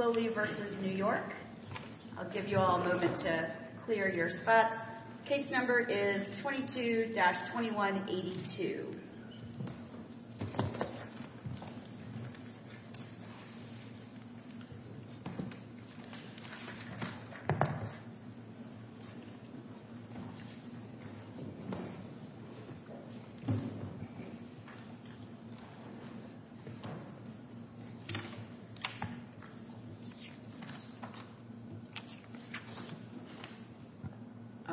I'll give you all a moment to clear your spots. Case number is 22-2182.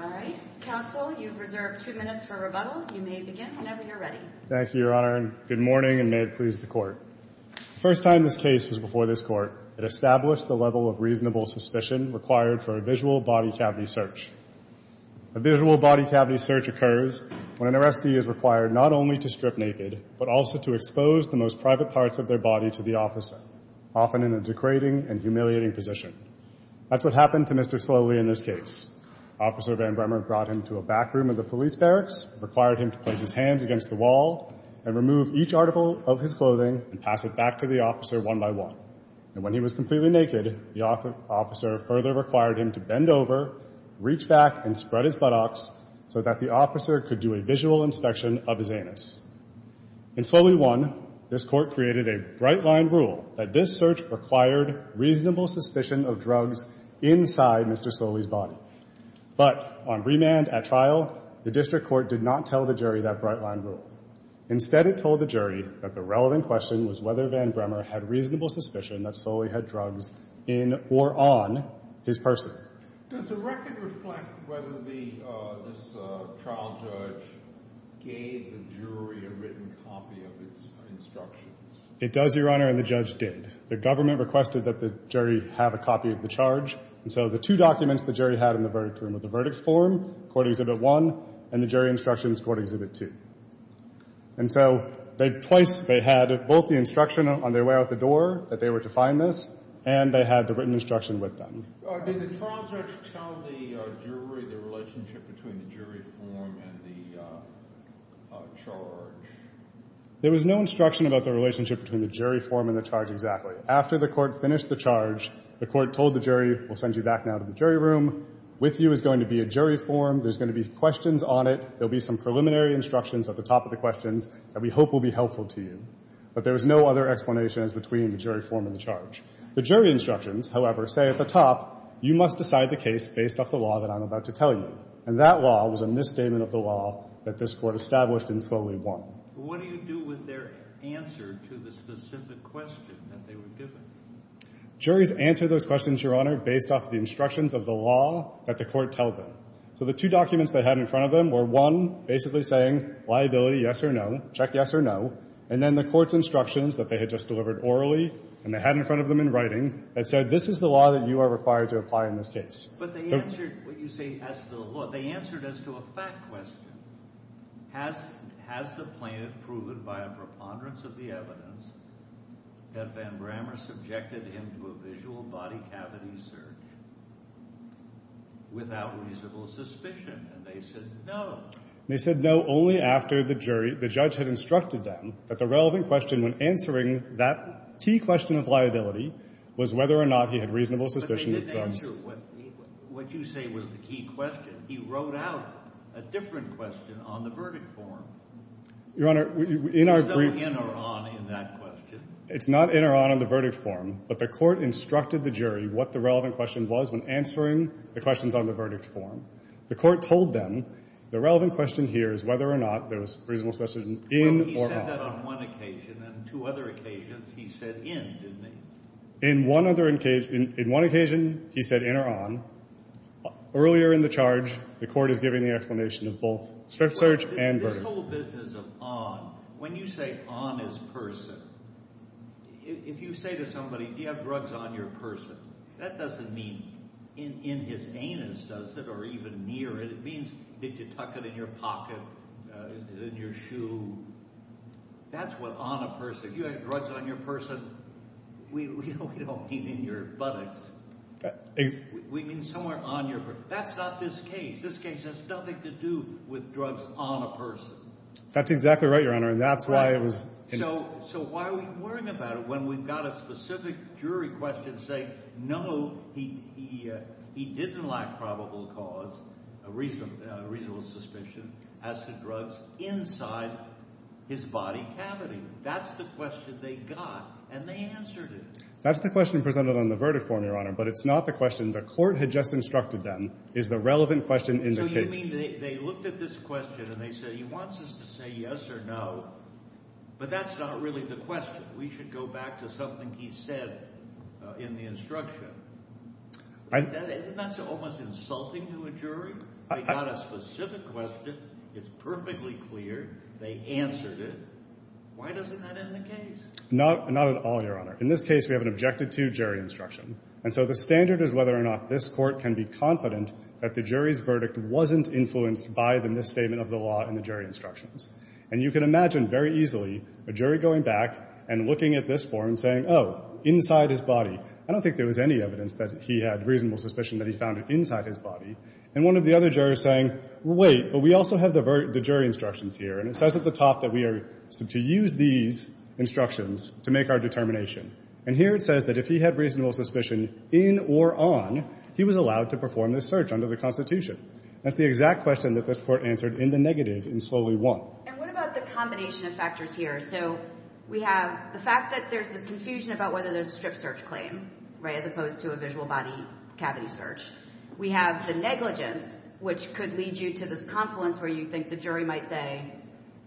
All right. Counsel, you've reserved two minutes for rebuttal. You may begin whenever you're ready. Thank you, Your Honor, and good morning, and may it please the Court. The first time this case was before this Court, it established the level of reasonable suspicion required for a visual body cavity search. A visual body cavity search occurs when an arrestee is required not only to strip naked, but also to expose the most private parts of their body to the officer, often in a degrading and humiliating position. That's what happened to Mr. Sloley in this case. Officer Van Bremer brought him to a back room of the police barracks, required him to place his hands against the wall, and remove each article of his clothing and pass it back to the officer one by one. And when he was completely naked, the officer further required him to bend over, reach back, and spread his buttocks so that the officer could do a visual inspection of his anus. In Sloley 1, this Court created a bright-line rule that this search required reasonable suspicion of drugs inside Mr. Sloley's body. But on remand at trial, the district court did not tell the jury that bright-line rule. Instead, it told the jury that the relevant question was whether Van Bremer had reasonable suspicion that Sloley had drugs in or on his person. Does the record reflect whether this trial judge gave the jury a written copy of its instructions? It does, Your Honor, and the judge did. The government requested that the jury have a copy of the charge, and so the two documents the jury had in the verdict room were the verdict form, Court Exhibit 1, and the jury instructions, Court Exhibit 2. And so twice they had both the instruction on their way out the door that they were to find this, and they had the written instruction with them. Did the trial judge tell the jury the relationship between the jury form and the charge? There was no instruction about the relationship between the jury form and the charge exactly. After the Court finished the charge, the Court told the jury, we'll send you back now to the jury room, with you is going to be a jury form. There's going to be questions on it. There will be some preliminary instructions at the top of the questions that we hope will be helpful to you. But there was no other explanations between the jury form and the charge. The jury instructions, however, say at the top, you must decide the case based off the law that I'm about to tell you. And that law was a misstatement of the law that this Court established and slowly won. What do you do with their answer to the specific question that they were given? Juries answer those questions, Your Honor, based off the instructions of the law that the Court told them. So the two documents they had in front of them were, one, basically saying liability, yes or no, check yes or no, and then the Court's instructions that they had just delivered orally, and they had in front of them in writing, that said, this is the law that you are required to apply in this case. But they answered what you say as to the law. They answered as to a fact question. Has the plaintiff proved by a preponderance of the evidence that Van Brammer subjected him to a visual body cavity search without reasonable suspicion? And they said no. And they said no only after the jury, the judge had instructed them that the relevant question when answering that key question of liability was whether or not he had reasonable suspicion of drugs. But they didn't answer what you say was the key question. He wrote out a different question on the verdict form. Your Honor, in our brief— There's no in or on in that question. It's not in or on in the verdict form, but the Court instructed the jury what the relevant question was when answering the questions on the verdict form. The Court told them the relevant question here is whether or not there was reasonable suspicion in or on. Well, he said that on one occasion. On two other occasions, he said in, didn't he? In one occasion, he said in or on. Earlier in the charge, the Court is giving the explanation of both search and verdict. This whole business of on, when you say on his person, if you say to somebody, do you have drugs on your person, that doesn't mean in his anus, does it, or even near it. It means did you tuck it in your pocket, in your shoe. That's what on a person—if you have drugs on your person, we don't mean in your buttocks. We mean somewhere on your—that's not this case. This case has nothing to do with drugs on a person. That's exactly right, Your Honor, and that's why it was— So why are we worrying about it when we've got a specific jury question and say, no, he didn't lack probable cause, reasonable suspicion, as to drugs inside his body cavity. That's the question they got, and they answered it. That's the question presented on the verdict form, Your Honor, but it's not the question the Court had just instructed them. It's the relevant question in the case. So you mean they looked at this question and they said, he wants us to say yes or no, but that's not really the question. We should go back to something he said in the instruction. Isn't that almost insulting to a jury? They got a specific question. It's perfectly clear. They answered it. Why doesn't that end the case? Not at all, Your Honor. In this case, we have an objective to jury instruction, and so the standard is whether or not this Court can be confident that the jury's verdict wasn't influenced by the misstatement of the law in the jury instructions. And you can imagine very easily a jury going back and looking at this form and saying, oh, inside his body. I don't think there was any evidence that he had reasonable suspicion that he found it inside his body. And one of the other jurors saying, wait, but we also have the jury instructions here, and it says at the top that we are to use these instructions to make our determination. And here it says that if he had reasonable suspicion in or on, he was allowed to perform this search under the Constitution. That's the exact question that this Court answered in the negative in Solely 1. And what about the combination of factors here? So we have the fact that there's this confusion about whether there's a strip search claim, right, as opposed to a visual body cavity search. We have the negligence, which could lead you to this confluence where you think the jury might say,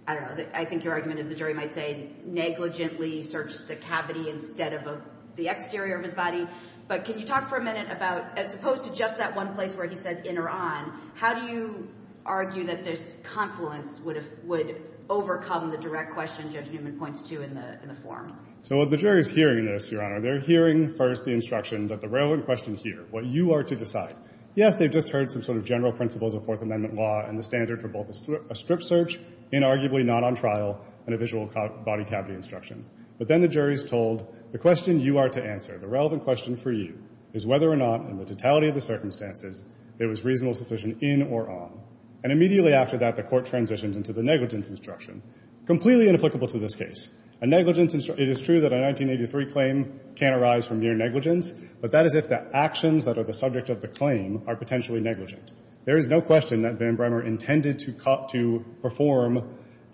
I don't know, I think your argument is the jury might say negligently searched the cavity instead of the exterior of his body. But can you talk for a minute about, as opposed to just that one place where he says in or on, how do you argue that this confluence would overcome the direct question Judge Newman points to in the form? So the jury's hearing this, Your Honor. They're hearing first the instruction that the relevant question here, what you are to decide. Yes, they've just heard some sort of general principles of Fourth Amendment law and the standard for both a strip search and arguably not on trial and a visual body cavity instruction. But then the jury's told the question you are to answer, the relevant question for you, is whether or not in the totality of the circumstances it was reasonable suspicion in or on. And immediately after that, the court transitions into the negligence instruction, completely inapplicable to this case. A negligence instruction, it is true that a 1983 claim can arise from near negligence, but that is if the actions that are the subject of the claim are potentially negligent. There is no question that Van Bremer intended to perform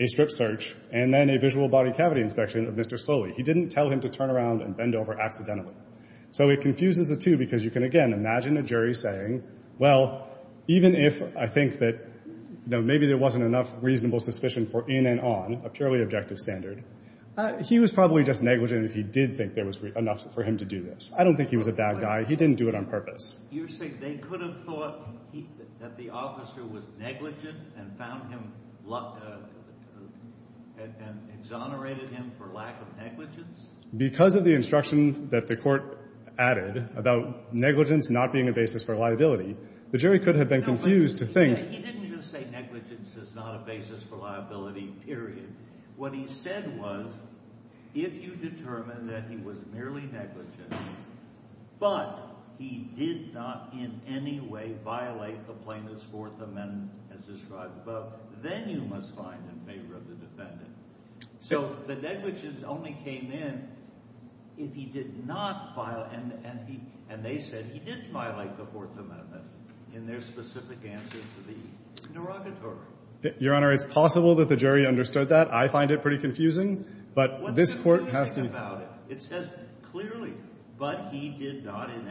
a strip search and then a visual body cavity inspection of Mr. Slowly. He didn't tell him to turn around and bend over accidentally. So it confuses the two because you can, again, imagine a jury saying, well, even if I think that maybe there wasn't enough reasonable suspicion for in and on, a purely objective standard, he was probably just negligent if he did think there was enough for him to do this. I don't think he was a bad guy. He didn't do it on purpose. You're saying they could have thought that the officer was negligent and found him, and exonerated him for lack of negligence? Because of the instruction that the court added about negligence not being a basis for liability, the jury could have been confused to think. He didn't just say negligence is not a basis for liability, period. What he said was if you determine that he was merely negligent but he did not in any way violate the plaintiff's Fourth Amendment as described above, then you must find in favor of the defendant. So the negligence only came in if he did not violate and they said he did violate the Fourth Amendment in their specific answer to the interrogatory. Your Honor, it's possible that the jury understood that. I find it pretty confusing, but this court has to What's confusing about it? It says clearly, but he did not in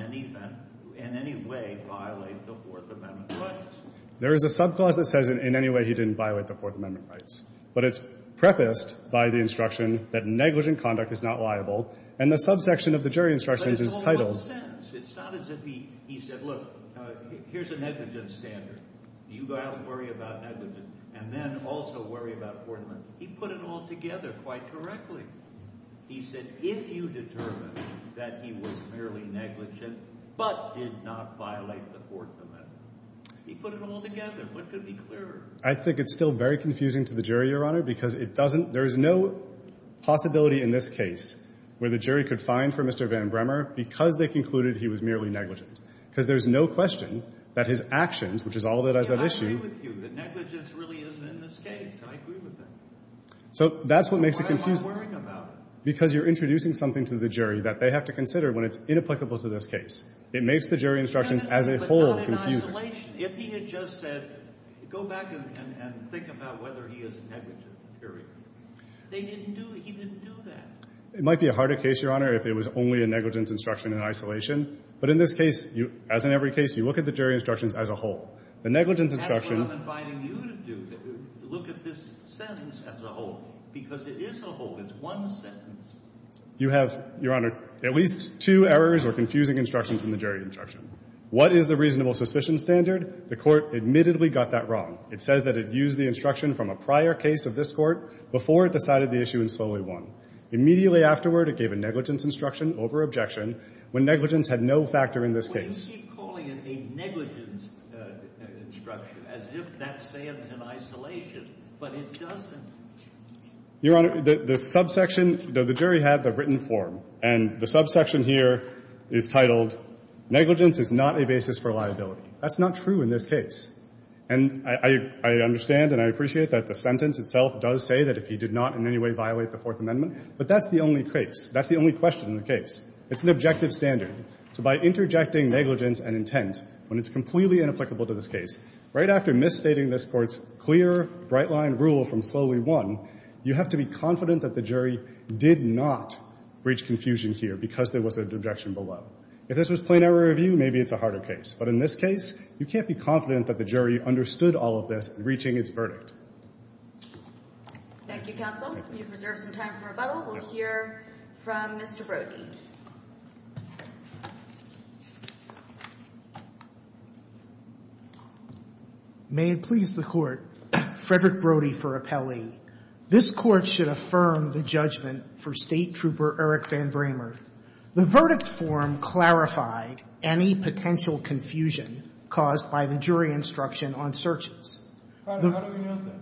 any way violate the Fourth Amendment rights. There is a subclause that says in any way he didn't violate the Fourth Amendment rights, but it's prefaced by the instruction that negligent conduct is not liable, and the subsection of the jury instructions is titled But it's all one sentence. It's not as if he said, look, here's a negligent standard. You go out and worry about negligence and then also worry about Fourth Amendment. He put it all together quite correctly. He said if you determine that he was merely negligent but did not violate the Fourth Amendment, he put it all together. What could be clearer? I think it's still very confusing to the jury, Your Honor, because it doesn't – there is no possibility in this case where the jury could find for Mr. Van Bremer because they concluded he was merely negligent because there's no question that his actions, which is all that is at issue I agree with you that negligence really isn't in this case. I agree with that. So that's what makes it confusing. Why am I worrying about it? Because you're introducing something to the jury that they have to consider when it's inapplicable to this case. It makes the jury instructions as a whole confusing. But not in isolation. If he had just said, go back and think about whether he is negligent, period. They didn't do – he didn't do that. It might be a harder case, Your Honor, if it was only a negligence instruction in isolation. But in this case, as in every case, you look at the jury instructions as a whole. The negligence instruction – That's what I'm inviting you to do, to look at this sentence as a whole because it is a whole. It's one sentence. You have, Your Honor, at least two errors or confusing instructions in the jury instruction. What is the reasonable suspicion standard? The Court admittedly got that wrong. It says that it used the instruction from a prior case of this Court before it decided the issue and slowly won. Immediately afterward, it gave a negligence instruction over objection when negligence had no factor in this case. We keep calling it a negligence instruction as if that stands in isolation. But it doesn't. Your Honor, the subsection – the jury had the written form. And the subsection here is titled Negligence is not a basis for liability. That's not true in this case. And I understand and I appreciate that the sentence itself does say that if he did not in any way violate the Fourth Amendment. But that's the only case. That's the only question in the case. It's an objective standard. So by interjecting negligence and intent when it's completely inapplicable to this case, right after misstating this Court's clear, bright-line rule from slowly won, you have to be confident that the jury did not reach confusion here because there was an objection below. If this was plain error review, maybe it's a harder case. But in this case, you can't be confident that the jury understood all of this in reaching its verdict. Thank you, counsel. You've reserved some time for rebuttal. We'll hear from Mr. Brody. May it please the Court, Frederick Brody for appellee. This Court should affirm the judgment for State Trooper Eric Van Bramer. The verdict form clarified any potential confusion caused by the jury instruction on searches. How do we know that?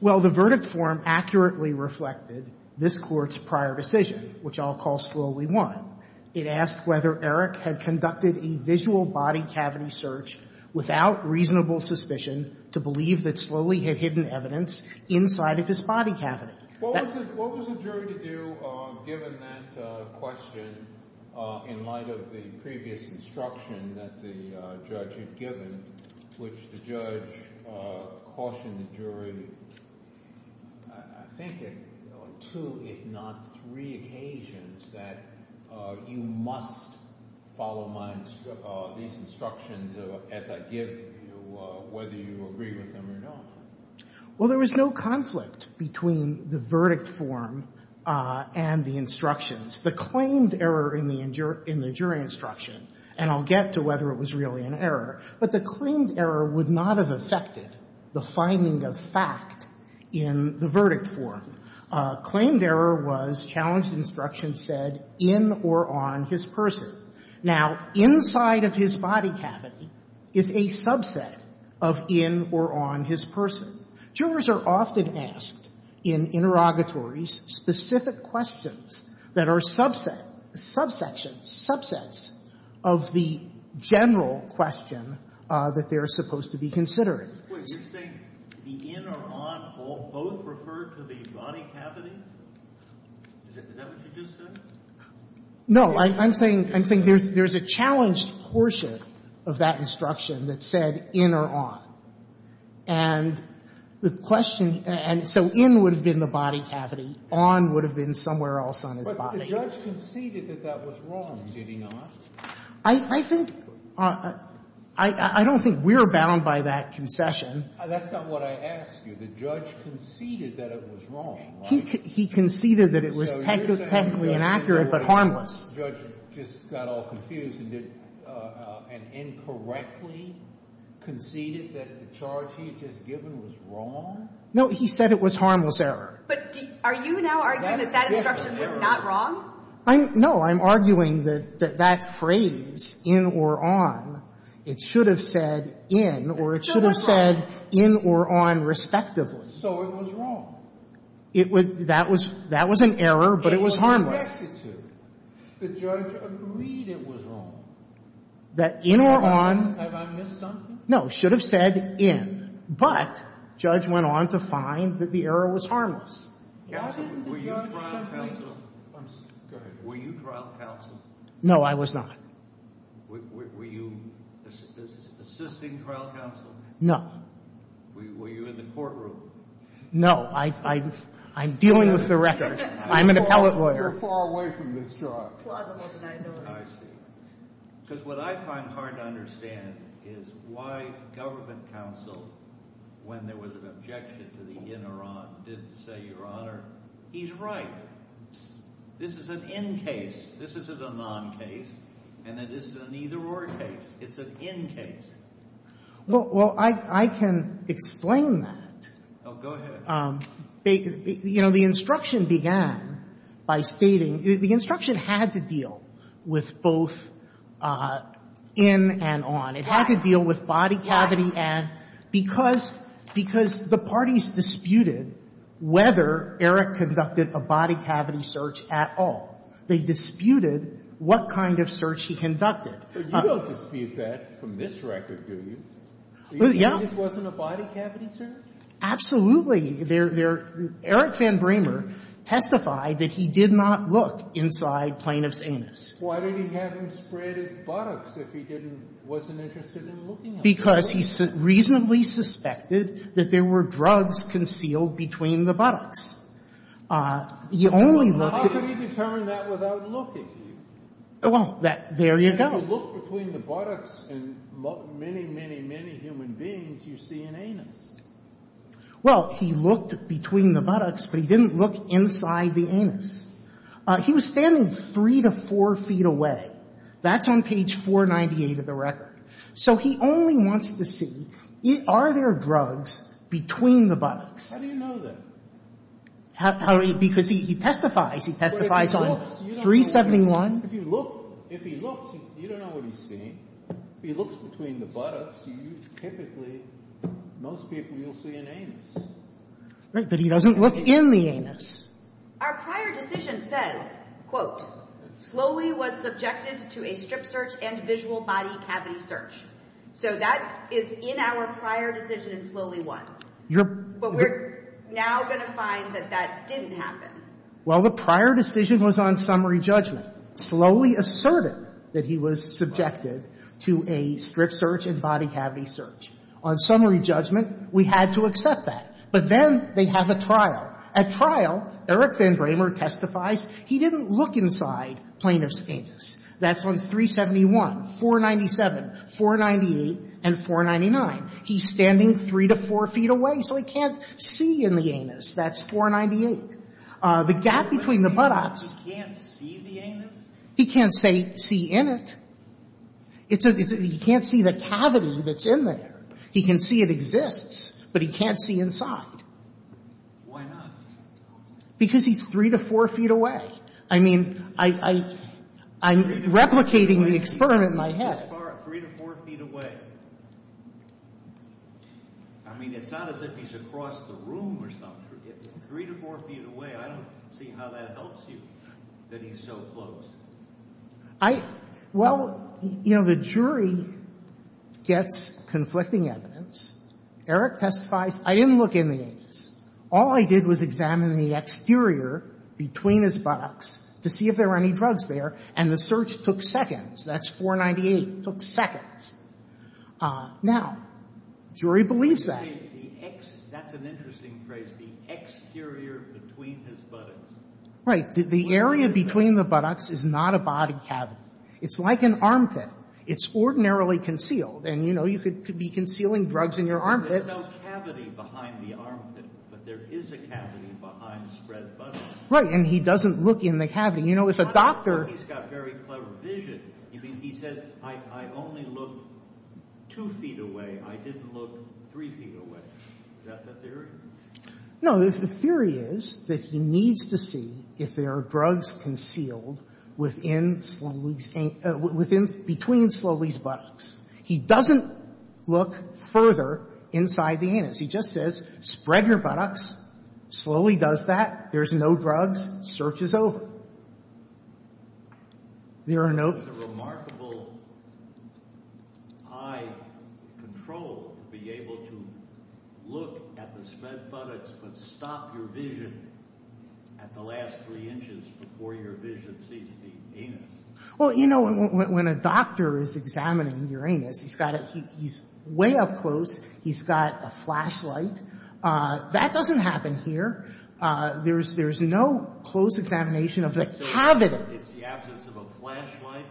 Well, the verdict form accurately reflected this Court's prior decision, which I'll call slowly won. It asked whether Eric had conducted a visual body cavity search without reasonable suspicion to believe that Slowly had hidden evidence inside of his body cavity. What was the jury to do given that question in light of the previous instruction that the judge had given, which the judge cautioned the jury I think on two, if not three, occasions that you must follow these instructions as I give you, whether you agree with them or not? Well, there was no conflict between the verdict form and the instructions. The claimed error in the jury instruction, and I'll get to whether it was really an error, but the claimed error would not have affected the finding of fact in the verdict form. Claimed error was challenged instruction said in or on his person. Now, inside of his body cavity is a subset of in or on his person. Jurors are often asked in interrogatories specific questions that are subset, subsection, subsets of the general question that they're supposed to be considering. Wait, you're saying the in or on both refer to the body cavity? Is that what you just said? No. I'm saying there's a challenged portion of that instruction that said in or on. And the question, and so in would have been the body cavity, on would have been somewhere else on his body. But the judge conceded that that was wrong, did he not? I think, I don't think we're bound by that concession. That's not what I asked you. The judge conceded that it was wrong. He conceded that it was technically inaccurate, but harmless. The judge just got all confused and incorrectly conceded that the charge he had just given was wrong? No, he said it was harmless error. But are you now arguing that that instruction was not wrong? No, I'm arguing that that phrase, in or on, it should have said in or it should have said in or on, respectively. So it was wrong. That was an error, but it was harmless. The judge agreed it was wrong. That in or on. Have I missed something? No, it should have said in, but the judge went on to find that the error was harmless. Counsel, were you trial counsel? I'm sorry. Go ahead. Were you trial counsel? No, I was not. Were you assisting trial counsel? No. Were you in the courtroom? No, I'm dealing with the record. I'm an appellate lawyer. You're far away from this charge. It's plausible that I know it. I see. Because what I find hard to understand is why government counsel, when there was an objection to the in or on, didn't say, Your Honor, he's right. This is an in case. This is a non case. And it isn't an either or case. It's an in case. Well, I can explain that. Oh, go ahead. You know, the instruction began by stating the instruction had to deal with both in and on. It had to deal with body cavity and because the parties disputed whether Eric conducted a body cavity search at all. They disputed what kind of search he conducted. But you don't dispute that from this record, do you? Yeah. This wasn't a body cavity search? Absolutely. Eric Van Bremer testified that he did not look inside plaintiff's anus. Why did he have him spread his buttocks if he didn't wasn't interested in looking at it? Because he reasonably suspected that there were drugs concealed between the buttocks. He only looked at the buttocks. How could he determine that without looking? Well, there you go. If you look between the buttocks and many, many, many human beings, you see an anus. Well, he looked between the buttocks, but he didn't look inside the anus. He was standing three to four feet away. That's on page 498 of the record. So he only wants to see, are there drugs between the buttocks? How do you know that? Because he testifies. He testifies on 371. If you look, if he looks, you don't know what he's seeing. If he looks between the buttocks, you typically, most people, you'll see an anus. Right. But he doesn't look in the anus. Our prior decision says, quote, slowly was subjected to a strip search and visual body cavity search. So that is in our prior decision in slowly one. But we're now going to find that that didn't happen. Well, the prior decision was on summary judgment. Slowly asserted that he was subjected to a strip search and body cavity search. On summary judgment, we had to accept that. But then they have a trial. At trial, Eric Van Bramer testifies he didn't look inside plaintiff's anus. That's on 371, 497, 498, and 499. He's standing three to four feet away, so he can't see in the anus. That's 498. The gap between the buttocks. He can't see the anus? He can't see in it. He can't see the cavity that's in there. He can see it exists, but he can't see inside. Why not? Because he's three to four feet away. I mean, I'm replicating the experiment in my head. Three to four feet away. I mean, it's not as if he's across the room or something. Three to four feet away, I don't see how that helps you, that he's so close. I — well, you know, the jury gets conflicting evidence. Eric testifies, I didn't look in the anus. All I did was examine the exterior between his buttocks to see if there were any drugs there, and the search took seconds. That's 498. It took seconds. Now, jury believes that. The ex — that's an interesting phrase, the exterior between his buttocks. Right. The area between the buttocks is not a body cavity. It's like an armpit. It's ordinarily concealed, and, you know, you could be concealing drugs in your armpit. There's no cavity behind the armpit, but there is a cavity behind Fred's buttocks. Right. And he doesn't look in the cavity. You know, if a doctor — I mean, he says, I only looked two feet away. I didn't look three feet away. Is that the theory? No. The theory is that he needs to see if there are drugs concealed within Slowly's — between Slowly's buttocks. He doesn't look further inside the anus. He just says, spread your buttocks. Slowly does that. There's no drugs. Search is over. There are no — It's a remarkable eye control to be able to look at the spread buttocks but stop your vision at the last three inches before your vision sees the anus. Well, you know, when a doctor is examining your anus, he's got a — he's way up close. He's got a flashlight. That doesn't happen here. There's no close examination of the cavity. It's the absence of a flashlight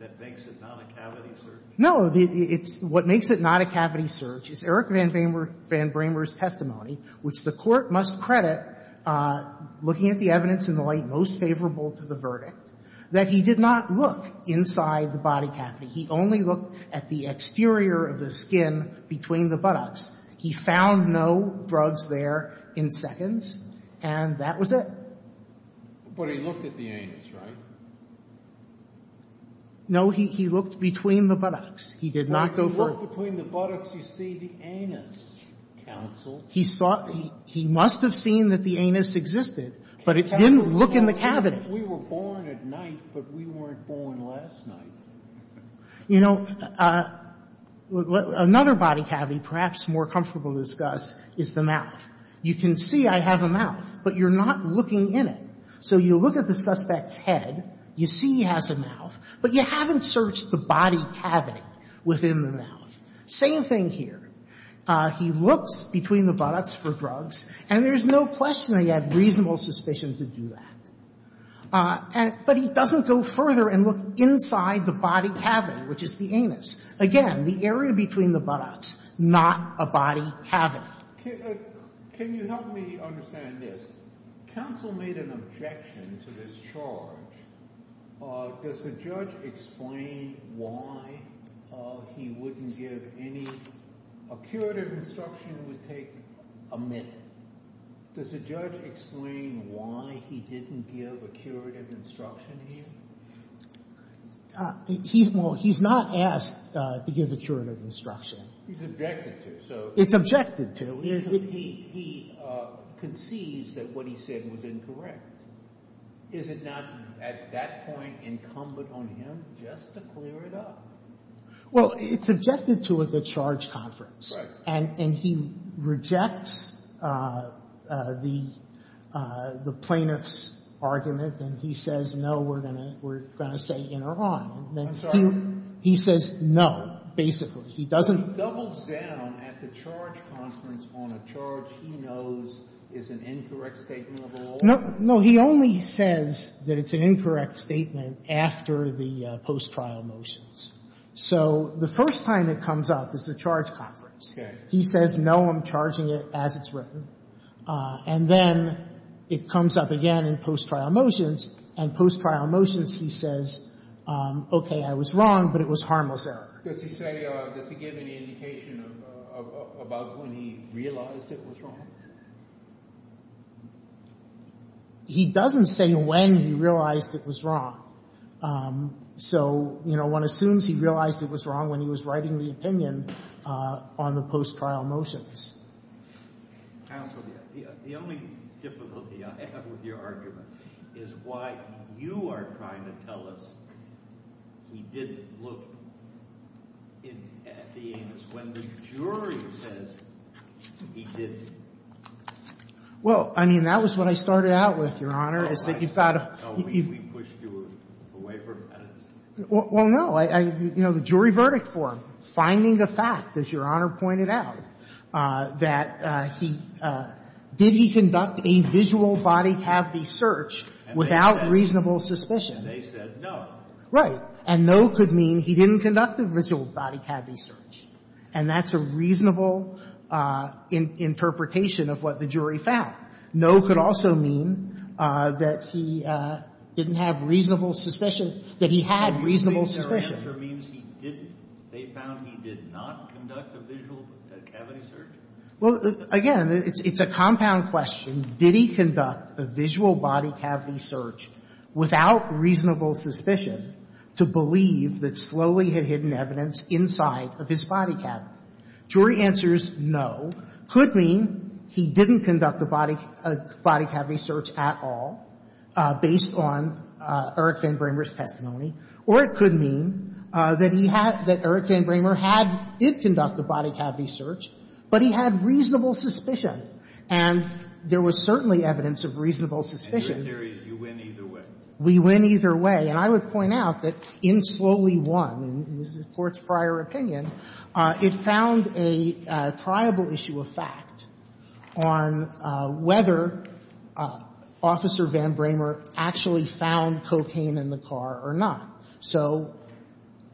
that makes it not a cavity search? No. It's — what makes it not a cavity search is Eric Van Bramer's testimony, which the Court must credit, looking at the evidence in the light most favorable to the verdict, that he did not look inside the body cavity. He only looked at the exterior of the skin between the buttocks. He found no drugs there in seconds, and that was it. But he looked at the anus, right? No. He looked between the buttocks. He did not go for — Well, if you look between the buttocks, you see the anus, counsel. He saw — he must have seen that the anus existed, but he didn't look in the cavity. We were born at night, but we weren't born last night. You know, another body cavity perhaps more comfortable to discuss is the mouth. You can see I have a mouth, but you're not looking in it. So you look at the suspect's head. You see he has a mouth, but you haven't searched the body cavity within the mouth. Same thing here. He looks between the buttocks for drugs, and there's no question that he had reasonable suspicion to do that. But he doesn't go further and look inside the body cavity, which is the anus. Again, the area between the buttocks, not a body cavity. Can you help me understand this? Counsel made an objection to this charge. Does the judge explain why he wouldn't give any — a curative instruction would take a minute. Does the judge explain why he didn't give a curative instruction here? Well, he's not asked to give a curative instruction. He's objected to, so — It's objected to. He conceives that what he said was incorrect. Is it not at that point incumbent on him just to clear it up? Well, it's objected to at the charge conference. Right. And he rejects the plaintiff's argument, and he says, no, we're going to say in or on. I'm sorry. He says no, basically. He doesn't — He doubles down at the charge conference on a charge he knows is an incorrect statement of a law. No. He only says that it's an incorrect statement after the post-trial motions. So the first time it comes up is the charge conference. He says, no, I'm charging it as it's written. And then it comes up again in post-trial motions, and post-trial motions he says, okay, I was wrong, but it was harmless error. Does he say — does he give any indication about when he realized it was wrong? He doesn't say when he realized it was wrong. So, you know, one assumes he realized it was wrong when he was writing the opinion on the post-trial motions. Counsel, the only difficulty I have with your argument is why you are trying to tell us he didn't look at the amendments when the jury says he didn't. Well, I mean, that was what I started out with, Your Honor, is that you thought — No, we pushed you away from evidence. Well, no. You know, the jury verdict for him, finding the fact, as Your Honor pointed out, that he — did he conduct a visual body cavity search without reasonable suspicion? And they said no. Right. And no could mean he didn't conduct a visual body cavity search. And that's a reasonable interpretation of what the jury found. No could also mean that he didn't have reasonable suspicion — that he had reasonable suspicion. But you think their answer means he didn't? They found he did not conduct a visual cavity search? Well, again, it's a compound question. Did he conduct a visual body cavity search without reasonable suspicion to believe that Slowly had hidden evidence inside of his body cavity? Jury answers no. Could mean he didn't conduct a body cavity search at all, based on Eric Van Bramer's testimony. Or it could mean that he had — that Eric Van Bramer had — did conduct a body cavity search, but he had reasonable suspicion. And there was certainly evidence of reasonable suspicion. And your theory is you win either way? We win either way. And I would point out that in Slowly won, in the Court's prior opinion, it found a triable issue of fact on whether Officer Van Bramer actually found cocaine in the car or not. So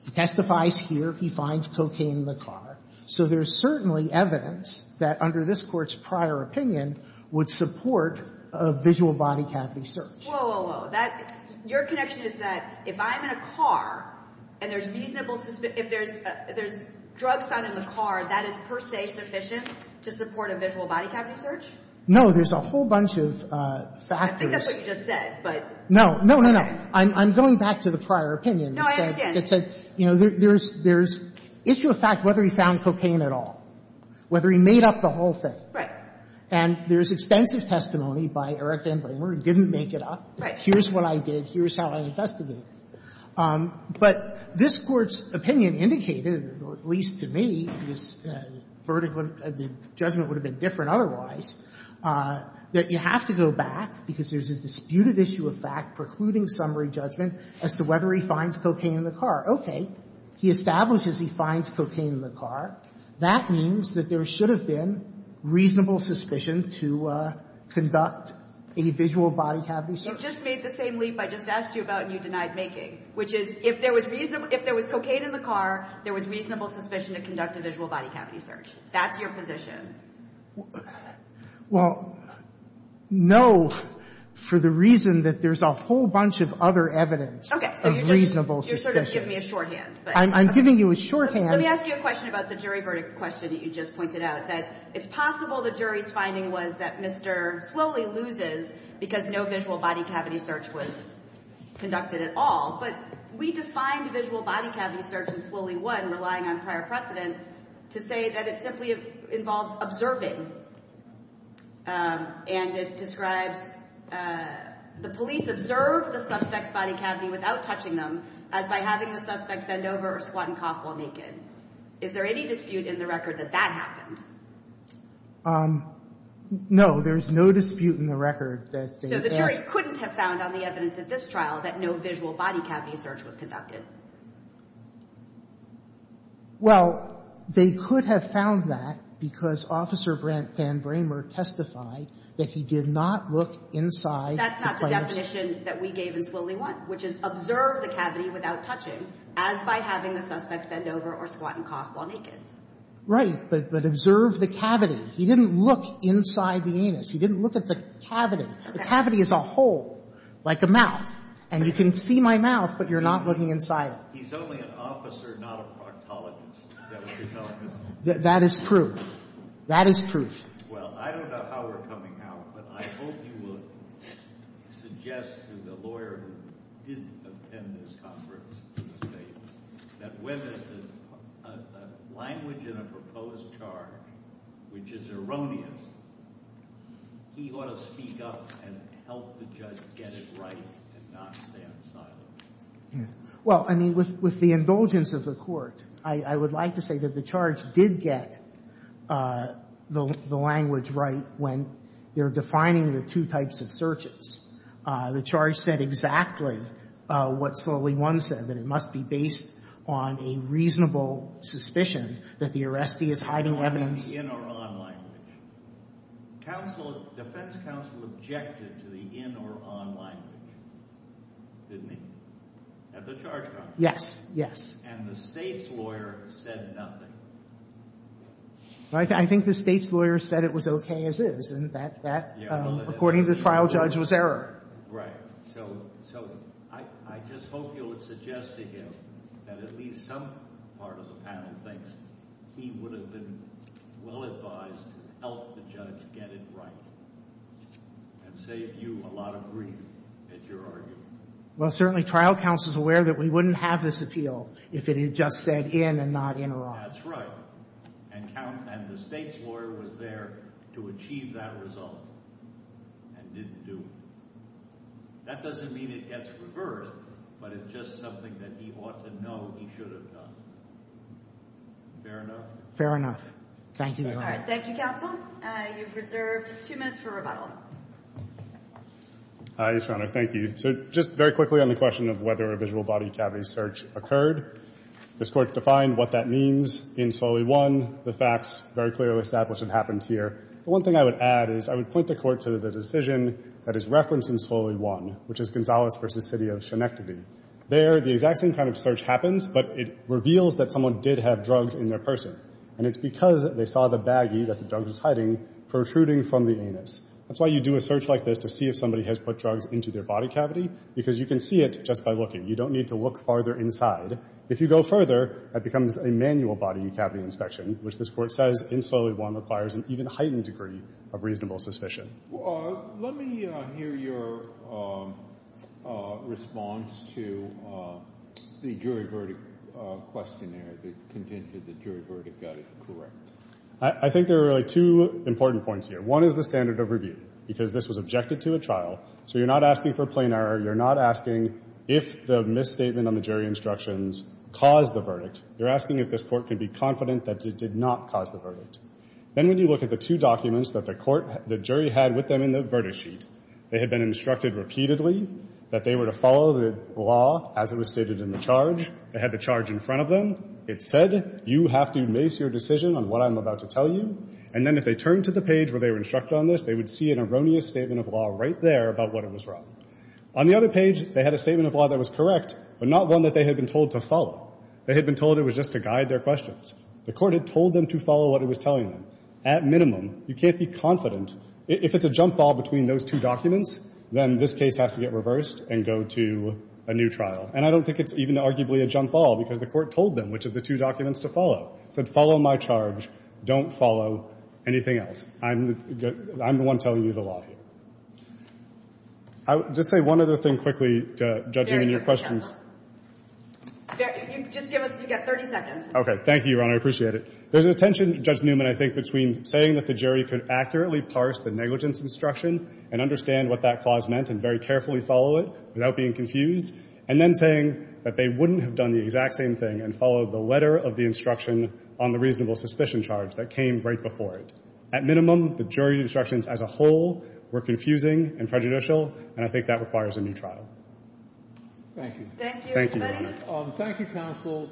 he testifies here. He finds cocaine in the car. So there's certainly evidence that under this Court's prior opinion would support a visual body cavity search. Whoa, whoa, whoa. That — your connection is that if I'm in a car and there's reasonable — if there's drugs found in the car, that is per se sufficient to support a visual body cavity search? No. There's a whole bunch of factors. I think that's what you just said, but — No. No, no, no. I'm going back to the prior opinion. No, I understand. It said, you know, there's issue of fact whether he found cocaine at all, whether he made up the whole thing. Right. And there's extensive testimony by Eric Van Bramer. He didn't make it up. Right. Here's what I did. Here's how I investigated. But this Court's opinion indicated, or at least to me, his verdict of the judgment would have been different otherwise, that you have to go back because there's a disputed issue of fact precluding summary judgment as to whether he finds cocaine in the car. Okay. He establishes he finds cocaine in the car. That means that there should have been reasonable suspicion to conduct a visual body cavity search. You just made the same leap I just asked you about and you denied making, which is if there was cocaine in the car, there was reasonable suspicion to conduct a visual body cavity search. That's your position. Well, no, for the reason that there's a whole bunch of other evidence of reasonable suspicion. So you're sort of giving me a shorthand. I'm giving you a shorthand. Let me ask you a question about the jury verdict question that you just pointed out, that it's possible the jury's finding was that Mr. Slowly loses because no visual body cavity search was conducted at all. But we defined visual body cavity search as Slowly won, relying on prior precedent to say that it simply involves observing and it describes the police observed the suspect's body cavity without touching them as by having the suspect bend over or squat and cough while naked. Is there any dispute in the record that that happened? No, there's no dispute in the record that they asked. But the jury couldn't have found on the evidence of this trial that no visual body cavity search was conducted. Well, they could have found that because Officer Van Bramer testified that he did not look inside. That's not the definition that we gave in Slowly won, which is observe the cavity without touching as by having the suspect bend over or squat and cough while naked. Right. But observe the cavity. He didn't look inside the anus. He didn't look at the cavity. The cavity is a hole like a mouth, and you can see my mouth, but you're not looking inside it. He's only an officer, not a proctologist. Is that what you're telling us? That is proof. That is proof. Well, I don't know how we're coming out, but I hope you will suggest to the lawyer who didn't attend this conference that when a language in a proposed charge, which is erroneous, he ought to speak up and help the judge get it right and not stand silent. Well, I mean, with the indulgence of the Court, I would like to say that the charge did get the language right when they're defining the two types of searches. The charge said exactly what Slowly won said, that it must be based on a reasonable suspicion that the arrestee is hiding evidence. In or on language. Defense counsel objected to the in or on language, didn't he, at the charge conference? Yes. Yes. And the State's lawyer said nothing. I think the State's lawyer said it was okay as is, and that, according to the trial judge, was error. Right. So I just hope you would suggest to him that at least some part of the panel thinks he would have been well advised to help the judge get it right and save you a lot of grief at your argument. Well, certainly trial counsel is aware that we wouldn't have this appeal if it had just said in and not in or on. That's right. And the State's lawyer was there to achieve that result and didn't do it. That doesn't mean it gets reversed, but it's just something that he ought to know he should have done. Fair enough? Fair enough. Thank you, Your Honor. All right. Thank you, counsel. You've reserved two minutes for rebuttal. Hi, Your Honor. Thank you. So just very quickly on the question of whether a visual body cavity search occurred. This court defined what that means in Slowly won. The facts very clearly established it happens here. The one thing I would add is I would point the court to the decision that is referenced in Slowly won, which is Gonzalez v. City of Shenectady. There, the exact same kind of search happens, but it reveals that someone did have drugs in their person, and it's because they saw the baggie that the drug was hiding protruding from the anus. That's why you do a search like this to see if somebody has put drugs into their body cavity, because you can see it just by looking. You don't need to look farther inside. If you go further, that becomes a manual body cavity inspection, which this court says in Slowly won requires an even heightened degree of reasonable suspicion. Let me hear your response to the jury verdict questionnaire that contended the jury verdict got it correct. I think there are really two important points here. One is the standard of review, because this was objected to at trial. So you're not asking for plain error. You're not asking if the misstatement on the jury instructions caused the verdict. You're asking if this court can be confident that it did not cause the verdict. Then when you look at the two documents that the court, the jury had with them in the verdict sheet, they had been instructed repeatedly that they were to follow the law as it was stated in the charge. It had the charge in front of them. It said you have to mace your decision on what I'm about to tell you. And then if they turned to the page where they were instructed on this, they would see an erroneous statement of law right there about what it was wrong. On the other page, they had a statement of law that was correct, but not one that they had been told to follow. They had been told it was just to guide their questions. The court had told them to follow what it was telling them. At minimum, you can't be confident. If it's a jump ball between those two documents, then this case has to get reversed and go to a new trial. And I don't think it's even arguably a jump ball, because the court told them which of the two documents to follow. It said, follow my charge. Don't follow anything else. I'm the one telling you the law here. I would just say one other thing quickly, judging on your questions. Just give us, you get 30 seconds. Okay. Thank you, Your Honor. I appreciate it. There's a tension, Judge Newman, I think, between saying that the jury could accurately parse the negligence instruction and understand what that clause meant and very carefully follow it without being confused, and then saying that they wouldn't have done the exact same thing and followed the letter of the instruction on the reasonable suspicion charge that came right before it. At minimum, the jury instructions as a whole were confusing and prejudicial, and I think that requires a new trial. Thank you. Thank you, everybody. Thank you, counsel.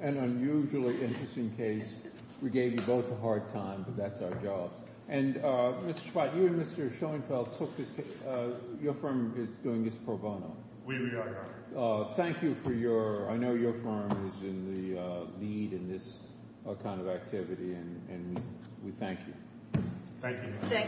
An unusually interesting case. We gave you both a hard time, but that's our job. And Mr. Spott, you and Mr. Schoenfeld took this case. Your firm is doing this pro bono. We are, Your Honor. Thank you for your – I know your firm is in the lead in this kind of activity, and we thank you. Thank you.